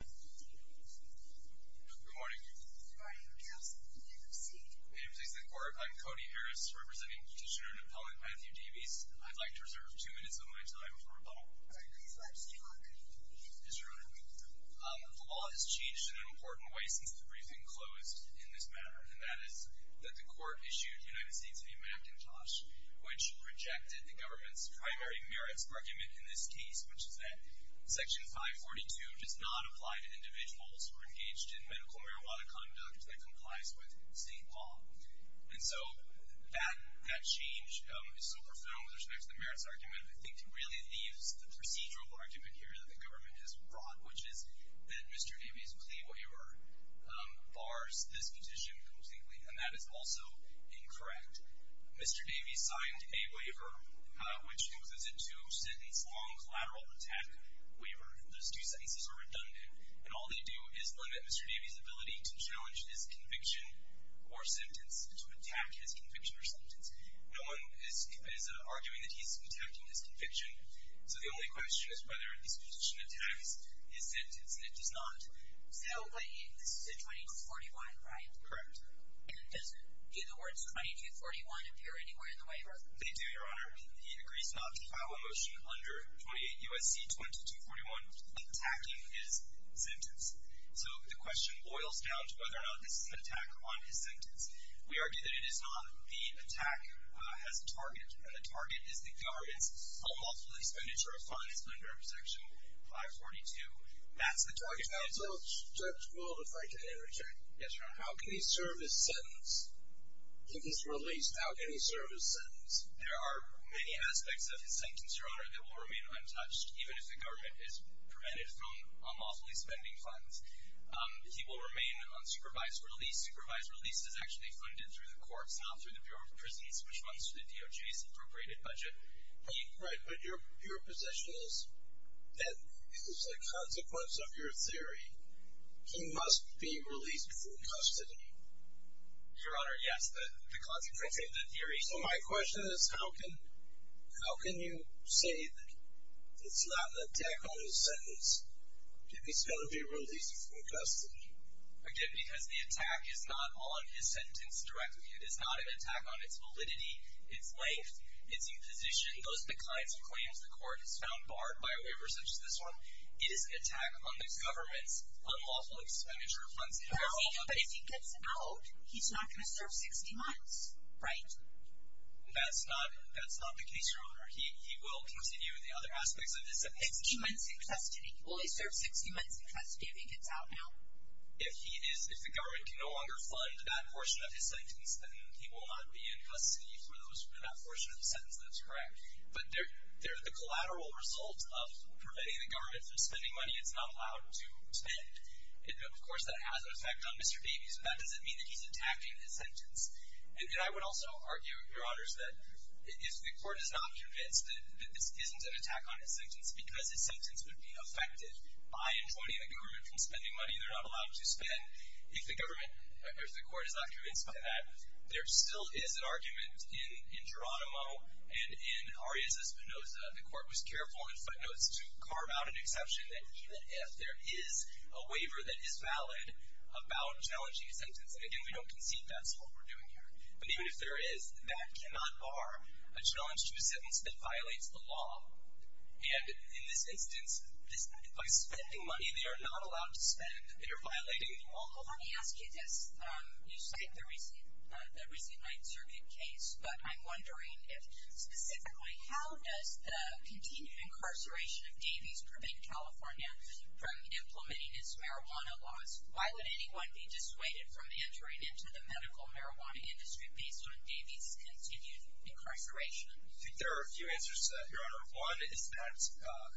Good morning. Good morning, counsel. You can proceed. Members of the court, I'm Cody Harris, representing Petitioner-Napoleon Matthew Davies. I'd like to reserve two minutes of my time for rebuttal. All right. Please let us know how good you can be. Yes, Your Honor. The law has changed in an important way since the briefing closed in this matter, and that is that the court issued United States v. McIntosh, which rejected the government's primary merits argument in this case, which is that Section 542 does not apply to individuals who are engaged in medical marijuana conduct that complies with state law. And so that change is so profound with respect to the merits argument. I think it really leaves the procedural argument here that the government has brought, which is that Mr. Davies' plea waiver bars this petition completely, and that is also incorrect. Mr. Davies signed a waiver which includes a two-sentence long lateral attack waiver. Those two sentences are redundant, and all they do is limit Mr. Davies' ability to challenge his conviction or sentence, to attack his conviction or sentence. No one is arguing that he's attacking his conviction, so the only question is whether this petition attacks his sentence, and it does not. So this is a 2241, right? Correct. And do the words 2241 appear anywhere in the waiver? They do, Your Honor. He agrees not to file a motion under 28 U.S.C. 2241 attacking his sentence. So the question boils down to whether or not this is an attack on his sentence. We argue that it is not. The attack has a target, and the target is the government's homophilic expenditure of funds under Section 542. That's the target. Counsel, Judge Gould, if I can interject. Yes, Your Honor. How can he serve his sentence? If he's released, how can he serve his sentence? There are many aspects of his sentence, Your Honor, that will remain untouched, even if the government has prevented him from homophily spending funds. He will remain on supervised release. Supervised release is actually funded through the courts, not through the Bureau of Proceeds, which funds the DOJ's appropriated budget. Right, but your position is that as a consequence of your theory, he must be released from custody. Your Honor, yes, the consequence of the theory. So my question is how can you say that it's not an attack on his sentence if he's going to be released from custody? Again, because the attack is not on his sentence directly. It is not an attack on its validity, its length, its imposition, those are the kinds of claims the court has found barred by a waiver such as this one. It is an attack on the government's unlawful expenditure of funds. But if he gets out, he's not going to serve 60 months, right? That's not the case, Your Honor. He will continue the other aspects of his sentence. 60 months in custody. Will he serve 60 months in custody if he gets out now? If the government can no longer fund that portion of his sentence, then he will not be in custody for that portion of the sentence. That's correct. But the collateral result of preventing the government from spending money, it's not allowed to spend. Of course, that has an effect on Mr. Baby, so that doesn't mean that he's attacking his sentence. And I would also argue, Your Honors, that if the court is not convinced that this isn't an attack on his sentence because his sentence would be affected by enjoining the government from spending money they're not allowed to spend, if the government or if the court is not convinced of that, there still is an argument in Geronimo and in Arias Espinosa. The court was careful in footnotes to carve out an exception that even if there is a waiver that is valid about challenging a sentence, and again, we don't concede that's what we're doing here, but even if there is, that cannot bar a challenge to a sentence that violates the law. And in this instance, by spending money they are not allowed to spend, they are violating the law. Let me ask you this. You cite the recent Ninth Circuit case, but I'm wondering if specifically, how does the continued incarceration of Davies prevent California from implementing its marijuana laws? Why would anyone be dissuaded from entering into the medical marijuana industry based on Davies' continued incarceration? I think there are a few answers to that, Your Honor. One is that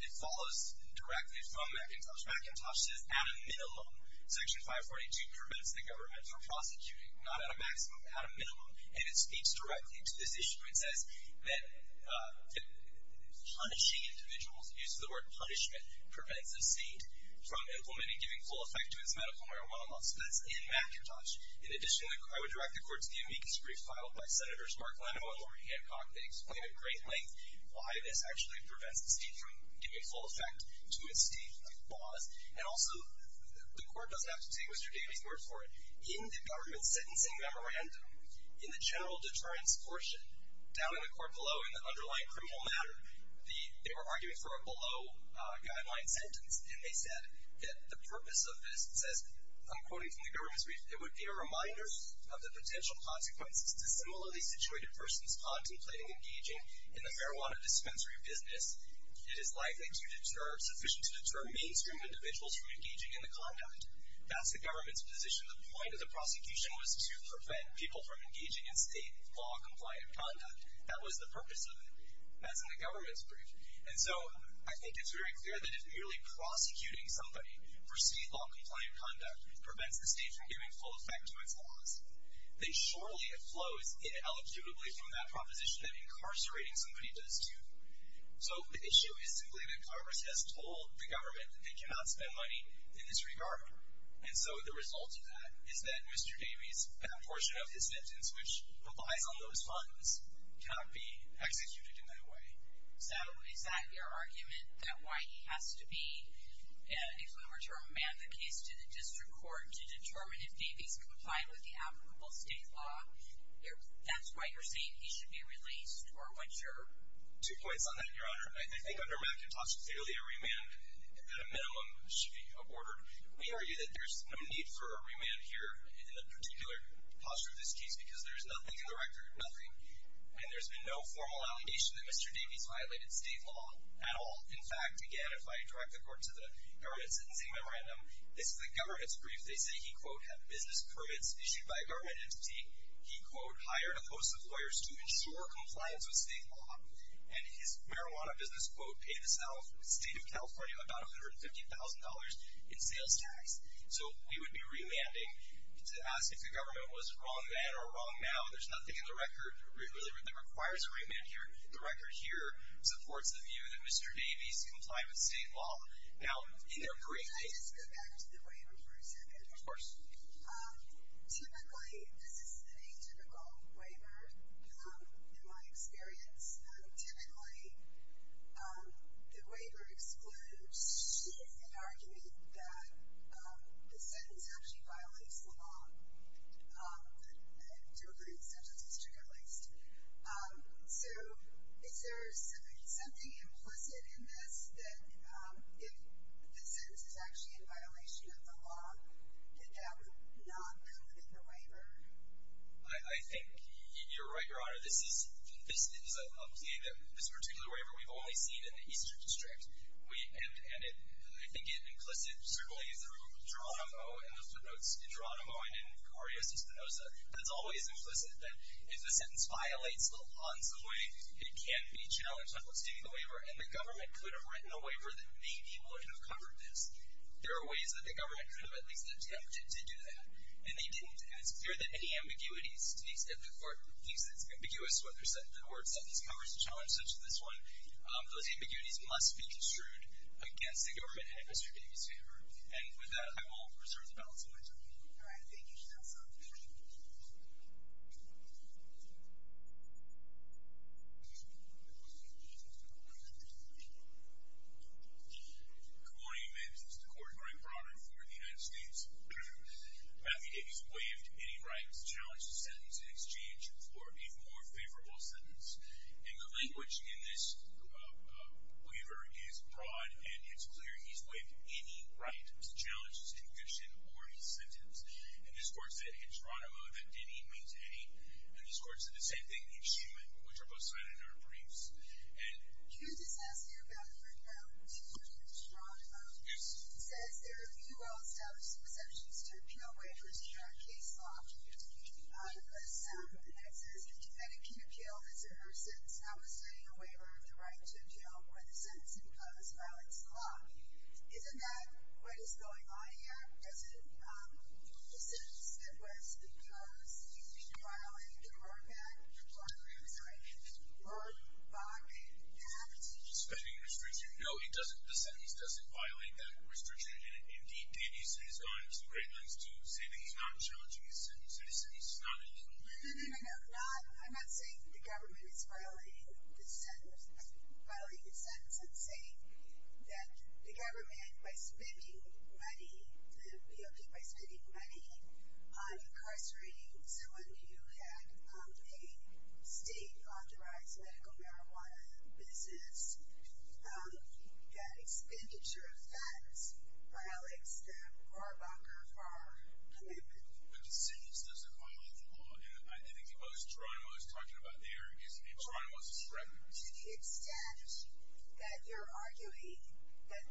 it follows directly from McIntosh. McIntosh says, at a minimum, Section 542 prevents the government from prosecuting, not at a maximum, but at a minimum, and it speaks directly to this issue. It says that punishing individuals, the use of the word punishment, prevents a state from implementing, giving full effect to its medical marijuana laws. So that's in McIntosh. In addition, I would direct the court to the amicus brief filed by Senators Mark Leno and Lori Hancock. They explain at great length why this actually prevents the state from giving full effect to its state laws. And also, the court doesn't have to take Mr. Davies' word for it. In the government sentencing memorandum, in the general deterrence portion, down in the court below in the underlying criminal matter, they were arguing for a below-guideline sentence, and they said that the purpose of this says, I'm quoting from the government's brief, it would be a reminder of the potential consequences to similarly situated persons contemplating engaging in the marijuana dispensary business. It is likely sufficient to deter mainstream individuals from engaging in the conduct. That's the government's position. The point of the prosecution was to prevent people from engaging in state law-compliant conduct. That was the purpose of it. That's in the government's brief. And so I think it's very clear that if merely prosecuting somebody for state law-compliant conduct prevents the state from giving full effect to its laws, then surely it flows ineligibly from that proposition that incarcerating somebody does, too. So the issue is simply that Congress has told the government that they cannot spend money in this regard. And so the result of that is that Mr. Davies' portion of his sentence, which relies on those funds, cannot be executed in that way. So is that your argument that why he has to be, if we were to remand the case to the district court to determine if Davies complied with the applicable state law, that's why you're saying he should be released, or what's your? Two points on that, Your Honor. I think under McIntosh clearly a remand at a minimum should be aborted. We argue that there's no need for a remand here in the particular posture of this case because there's nothing in the record, nothing, and there's been no formal allegation that Mr. Davies violated state law at all. In fact, again, if I direct the court to the government sentencing memorandum, this is the government's brief. They say he, quote, had business permits issued by a government entity. He, quote, hired a host of lawyers to ensure compliance with state law. And his marijuana business, quote, paid the state of California about $150,000 in sales tax. So we would be remanding to ask if the government was a wrong then or a wrong now. There's nothing in the record that requires a remand here. The record here supports the view that Mr. Davies complied with state law. Now, in their brief, they- Can I just go back to the waiver for a second? Of course. Typically, this is the atypical waiver in my experience. Typically, the waiver excludes an argument that the sentence actually violates the law, that a duplicate sentence is triggered at least. So is there something implicit in this that if the sentence is actually in violation of the law, that that would not come within the waiver? I think you're right, Your Honor. This is a plea that this particular waiver we've only seen in the Eastern District. And I think it implicit, certainly, through Geronimo, and those were notes in Geronimo and in Arias Espinoza, that it's always implicit that if the sentence violates the law in some way, it can be challenged notwithstanding the waiver. And the government could have written a waiver that maybe would have covered this. There are ways that the government could have at least attempted to do that. And they didn't. And it's clear that any ambiguities, at least if the court thinks it's ambiguous to what the court set these covers to challenge, such as this one, those ambiguities must be construed against the government in Mr. Davies' favor. And with that, I will reserve the balance of my time. All right. Thank you, counsel. Good morning, amendments. This is the Court of Arbitration for the United States. Matthew Davies waived any right to challenge the sentence in exchange for a more favorable sentence. And the language in this waiver is broad, and it's clear he's waived any right to challenge his conviction or his sentence. And this Court said in Geronimo that he didn't waive any. And this Court said the same thing in Schuman, which are both cited in our briefs. Can I just ask you about the right now to challenge Geronimo? Yes. It says there are few well-established presumptions to appeal waivers in our case law. Yes. It says that the defendant can appeal his or her sentence notwithstanding a waiver or the right to appeal when the sentencing clause violates the law. Isn't that what is going on here? Isn't the sentence that was proposed being violated in Rorke Act? I'm sorry. In Rorke, Bach, and that? No, it doesn't. The sentence doesn't violate that restriction. And indeed, Davies has gone to great lengths to say that he's not challenging his sentence. It is not a legal waiver. No, no, no, no. I'm not saying that the government is violating the sentence. I'm saying that the government, by spending money, the POP by spending money on incarcerating someone who had a state-authorized medical marijuana business, that expenditure of that violates the Rohrabacher-Farr commitment. The sentence doesn't violate the law. And I think the most Toronto is talking about there is that Toronto is a threat. To the extent that you're arguing that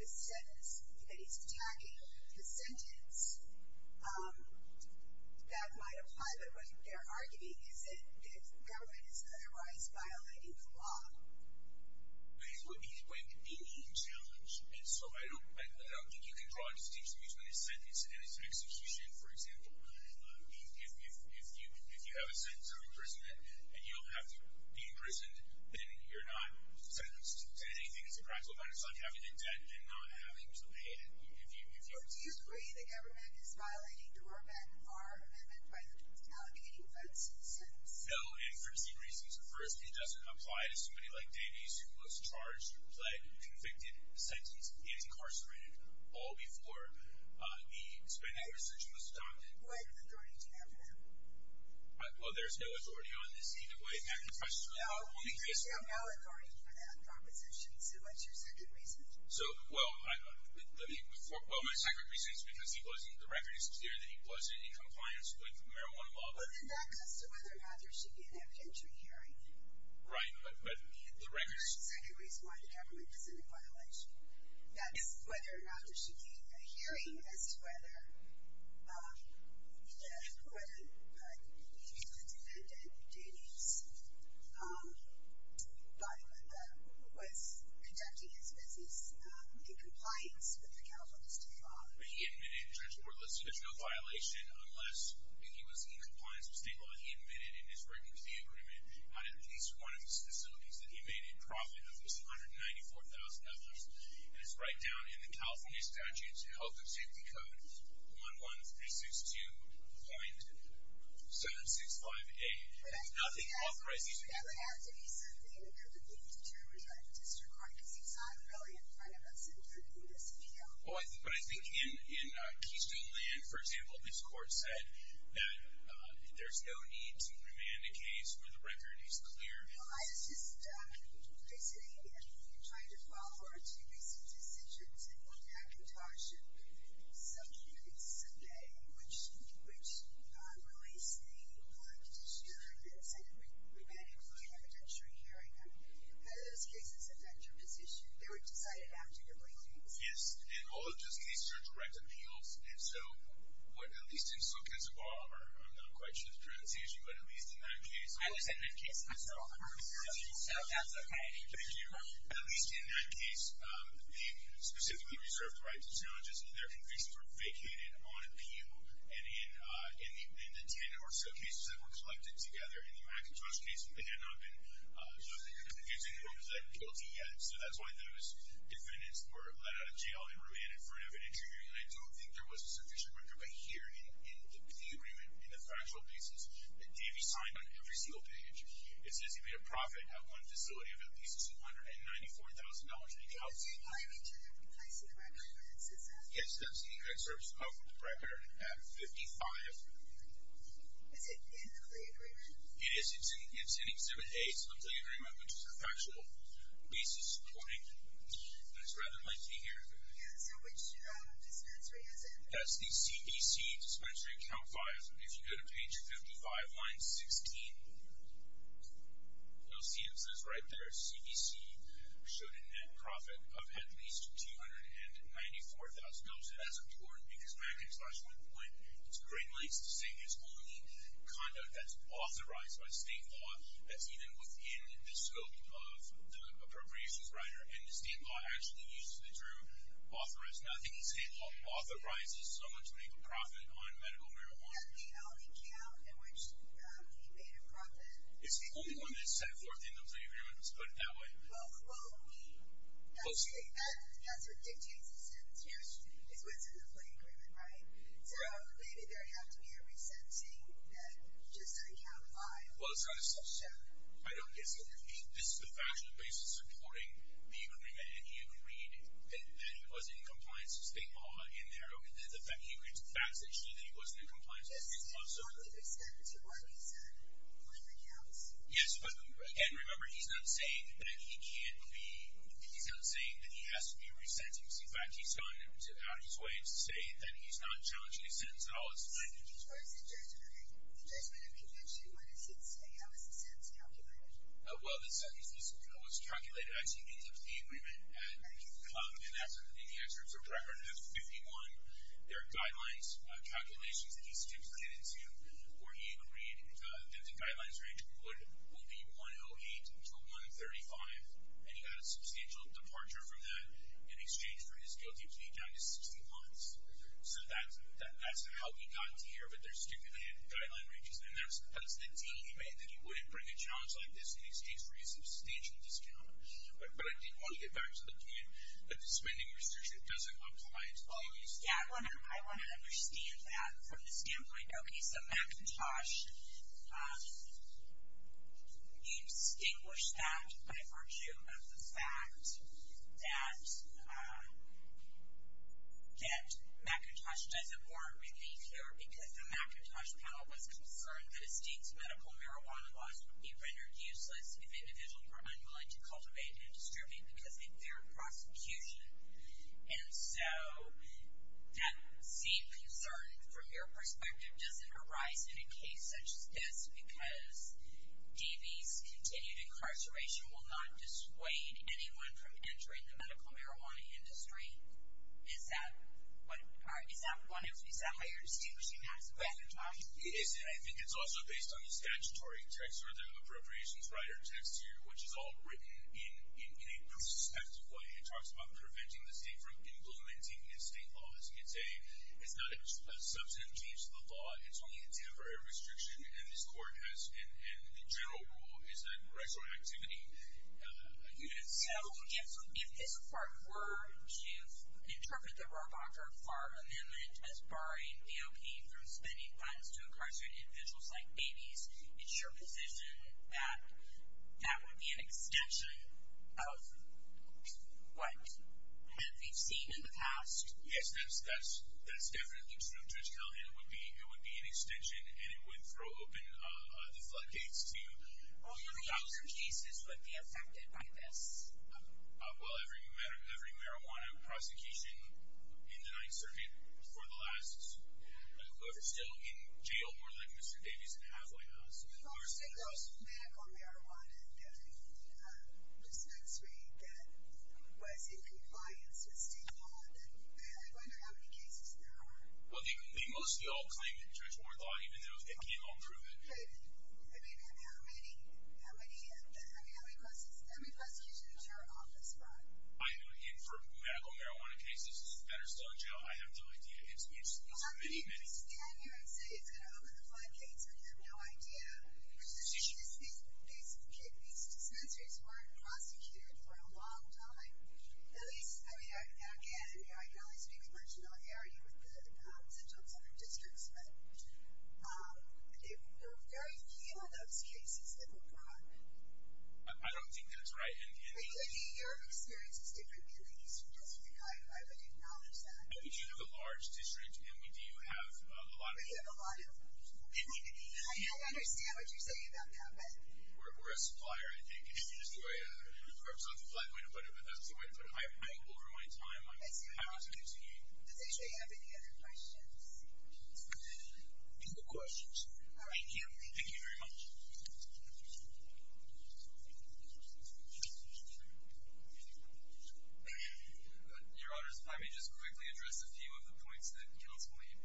the sentence, that he's tagging the sentence, that might apply. But what they're arguing is that the government is otherwise violating the law. But he's going to be challenged. And so I don't think you can draw a distinction between his sentence and his execution, for example. If you have a sentence of imprisonment, and you don't have to be imprisoned, then you're not sentenced to anything. It's a practical matter. It's like having a debt and not having to pay it. Do you agree the government is violating the Rohrabacher-Farr amendment by alleviating that sentence? No, and for two reasons. First, it doesn't apply to somebody like Davies, who was charged, plagued, convicted, sentenced, and incarcerated all before. What authority do you have for that? Well, there's no authority on this either way. No, there's no authority for that proposition. So what's your second reason? Well, my second reason is because the record is clear that he wasn't in compliance with the marijuana law. Well, then that comes to whether or not there should be an evidentiary hearing. Right, but the record is clear. The second reason why the government is in a violation, that's whether or not there should be a hearing as to whether the defendant, Davies, by the way, was conducting his business in compliance with the California state law. But he admitted transport-less, so there's no violation unless he was in compliance with state law. He admitted in his written review agreement that at least one of the facilities that he made in profit was $194,000. And it's right down in the California statute's health and safety code, 11362.765a. But I think that would have to be something that would be determined by the district court because it's not really in front of us in this video. Well, but I think in Keystone Land, for example, this court said that there's no need to remand a case where the record is clear. Well, I was just visiting and trying to follow our two recent decisions in looking at contortion. Some cases today, which released the petitioner that said that we might include evidentiary hearing. And those cases, if that term is issued, they were decided after your briefings. Yes, and all of those cases are direct appeals. And so, at least in Suquansett Bar, I'm not quite sure the transparency issue, but at least in that case. I was in that case. I saw all the records. So, that's okay. Thank you. At least in that case, the specifically reserved rights and challenges in their convictions were vacated on appeal. And in the 10 or so cases that were collected together, in the McIntosh case, they had not been confusing who was the guilty yet. So, that's why those defendants were let out of jail and remanded for an evidentiary hearing. And I don't think there was a sufficient record, but here in the agreement, in the factual pieces, that Davey signed on every single page. It says he made a profit at one facility of at least $294,000 in accounts. Did Davey apply to replace the record for that success? Yes, that's the excerpts of the record at 55. Is it in the clear agreement? It is. It's in Exhibit A. It's in the clear agreement, which is the factual pieces supporting. It's rather lengthy here. So, which dispensary is it? That's the CDC Dispensary Account Files. If you go to page 55, line 16, you'll see it says right there, CDC showed a net profit of at least $294,000. Now, I'll say that's important because McIntosh, one point it's a great length to say, is only conduct that's authorized by state law that's even within the scope of the appropriations writer. And the state law actually uses the term authorized. Now, I think the state law authorizes someone to make a profit on medical marijuana. That's the only account in which he made a profit. It's the only one that's set forth in those agreements. Put it that way. Well, that's what dictates the sentence. It's within the plain agreement, right? So, maybe there would have to be a resentencing that just an account filed. Well, it's rather self-shown. I don't get it. So, this is the factual pieces supporting the agreement, and he agreed that it was in compliance with state law in there. He agreed to the facts that show that it was in compliance with state law. So, he's not going to be sent to one of these blank accounts? Yes. And remember, he's not saying that he can't be, he's not saying that he has to be resentenced. In fact, he's gone out of his way to say that he's not challenging his sentence at all. As far as the judgment of McIntosh, what does he say? How is the sentence calculated? Well, the sentence was calculated as he came to the agreement. And the answer is a record. That's 51. There are guidelines calculations that he stipulated to where he agreed that the guidelines range would be 108 to 135. And he got a substantial departure from that in exchange for his guilty plea down to 16 months. So, that's how he got to here, but there's stipulated guideline ranges. And that's the deal he made, that he wouldn't bring a challenge like this in exchange for a substantial discount. But I think one of the facts of the game, that the spending restriction doesn't apply as always. Yeah, I want to understand that from the standpoint, okay, so McIntosh, you distinguish that by virtue of the fact that McIntosh doesn't warrant relief here because the McIntosh panel was concerned that a state's medical marijuana laws would be rendered useless if individuals were unwilling to cultivate and distribute because of their prosecution. And so, that same concern from your perspective doesn't arise in a case such as this because D.B.'s continued incarceration will not dissuade anyone from entering the medical marijuana industry. Is that why you're distinguishing McIntosh? I think it's also based on the statutory text or the appropriations writer text here, which is all written in a prospective way. It talks about preventing the state from implementing the state laws. It's not a substantive change to the law. It's only a temporary restriction. And this court has, in general rule, is that retroactivity units. So, if this court were to interpret the Robocker Farm Amendment as barring AOP from spending funds to incarcerate individuals like babies, is your position that that would be an extension of what we've seen in the past? Yes, that's definitely true, Judge Callahan. It would be an extension, and it would throw open the floodgates to... How many other cases would be affected by this? Well, every marijuana prosecution in the Ninth Circuit for the last... In jail more than Mr. Davies and Hathaway has. For single medical marijuana in the dispensary that was in compliance with state law, then I wonder how many cases there are. Well, they mostly all claim it, Judge Warthog, even though it can't all prove it. I mean, how many prosecutions are on this front? I know, and for medical marijuana cases that are still in jail, I have no idea. How can you stand here and say it's going to open the floodgates when you have no idea? These dispensaries weren't prosecuted for a long time. At least, I mean, I can't. I mean, I can only speak with much familiarity with the Central and Southern Districts, but there are very few of those cases that were brought. I don't think that's right. I think your experience is different, and I would acknowledge that. We do have a large district, and we do have a lot of community. I understand what you're saying about that, but... We're a supplier, I think, and it's just the way it works on the floodplain, but that's the way it's done. I over my time, I have to continue. Does anybody have any other questions? No questions. All right, thank you. Thank you very much. Your Honor, if I may just quickly address a few of the points that Kenneth's made.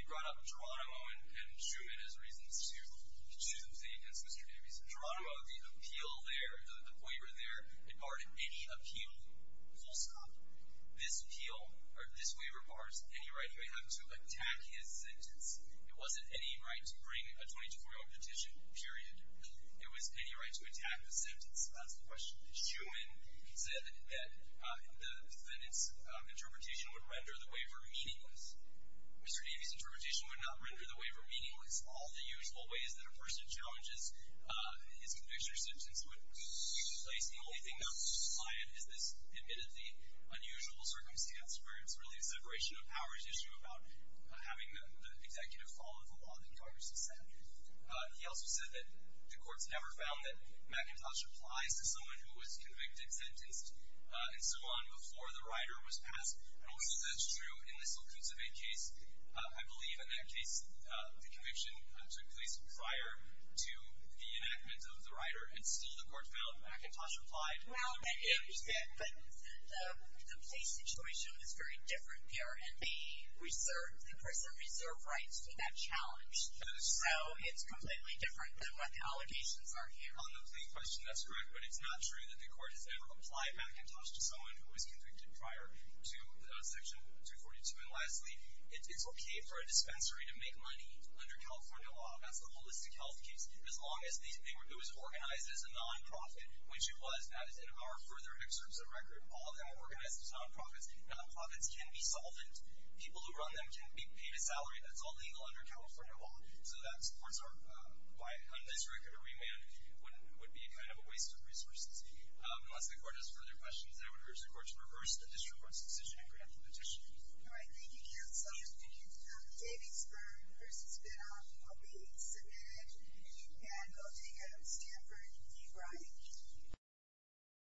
He brought up Geronimo and Schuman as reasons to say against Mr. Davies. Geronimo, the appeal there, the waiver there, it barred any appeal, full stop. This appeal, or this waiver, bars any right he would have to attack his sentence. It wasn't any right to bring a 2241 petition, period. It was any right to attack the sentence. That's the question. Schuman said that the defendant's interpretation would render the waiver meaningless. Mr. Davies' interpretation would not render the waiver meaningless. All the usual ways that a person challenges his conviction or sentence would be in place. The only thing that was supplied is this admittedly unusual circumstance where it's really a separation of powers issue about having the executive follow the law that Congress has set. He also said that the courts never found that McIntosh applies to someone who was convicted, sentenced, and so on before the rider was passed. And also, that's true in this Lucuzave case. I believe in that case, the conviction took place prior to the enactment of the rider and still the court found McIntosh applied. Well, but the place situation is very different here and the person reserved rights to that challenge. So it's completely different than what the allegations are here. On the plea question, that's correct, but it's not true that the court has ever applied McIntosh to someone who was convicted prior to Section 242. And lastly, it's okay for a dispensary to make money under California law. That's the holistic health case. As long as it was organized as a non-profit, which it was. In our further excerpts of record, all of them are organized as non-profits. Non-profits can be solvent. People who run them can be paid a salary. That's all legal under California law. So that's why this record or remand would be kind of a waste of resources. Unless the court has further questions, I would urge the court to reverse the disreports decision and grant the petition. All right, thank you, Counselor. Thank you. David Sperm versus Ben Arthur. I'll be submitted. And I'll take it on Stanford v. Bryant.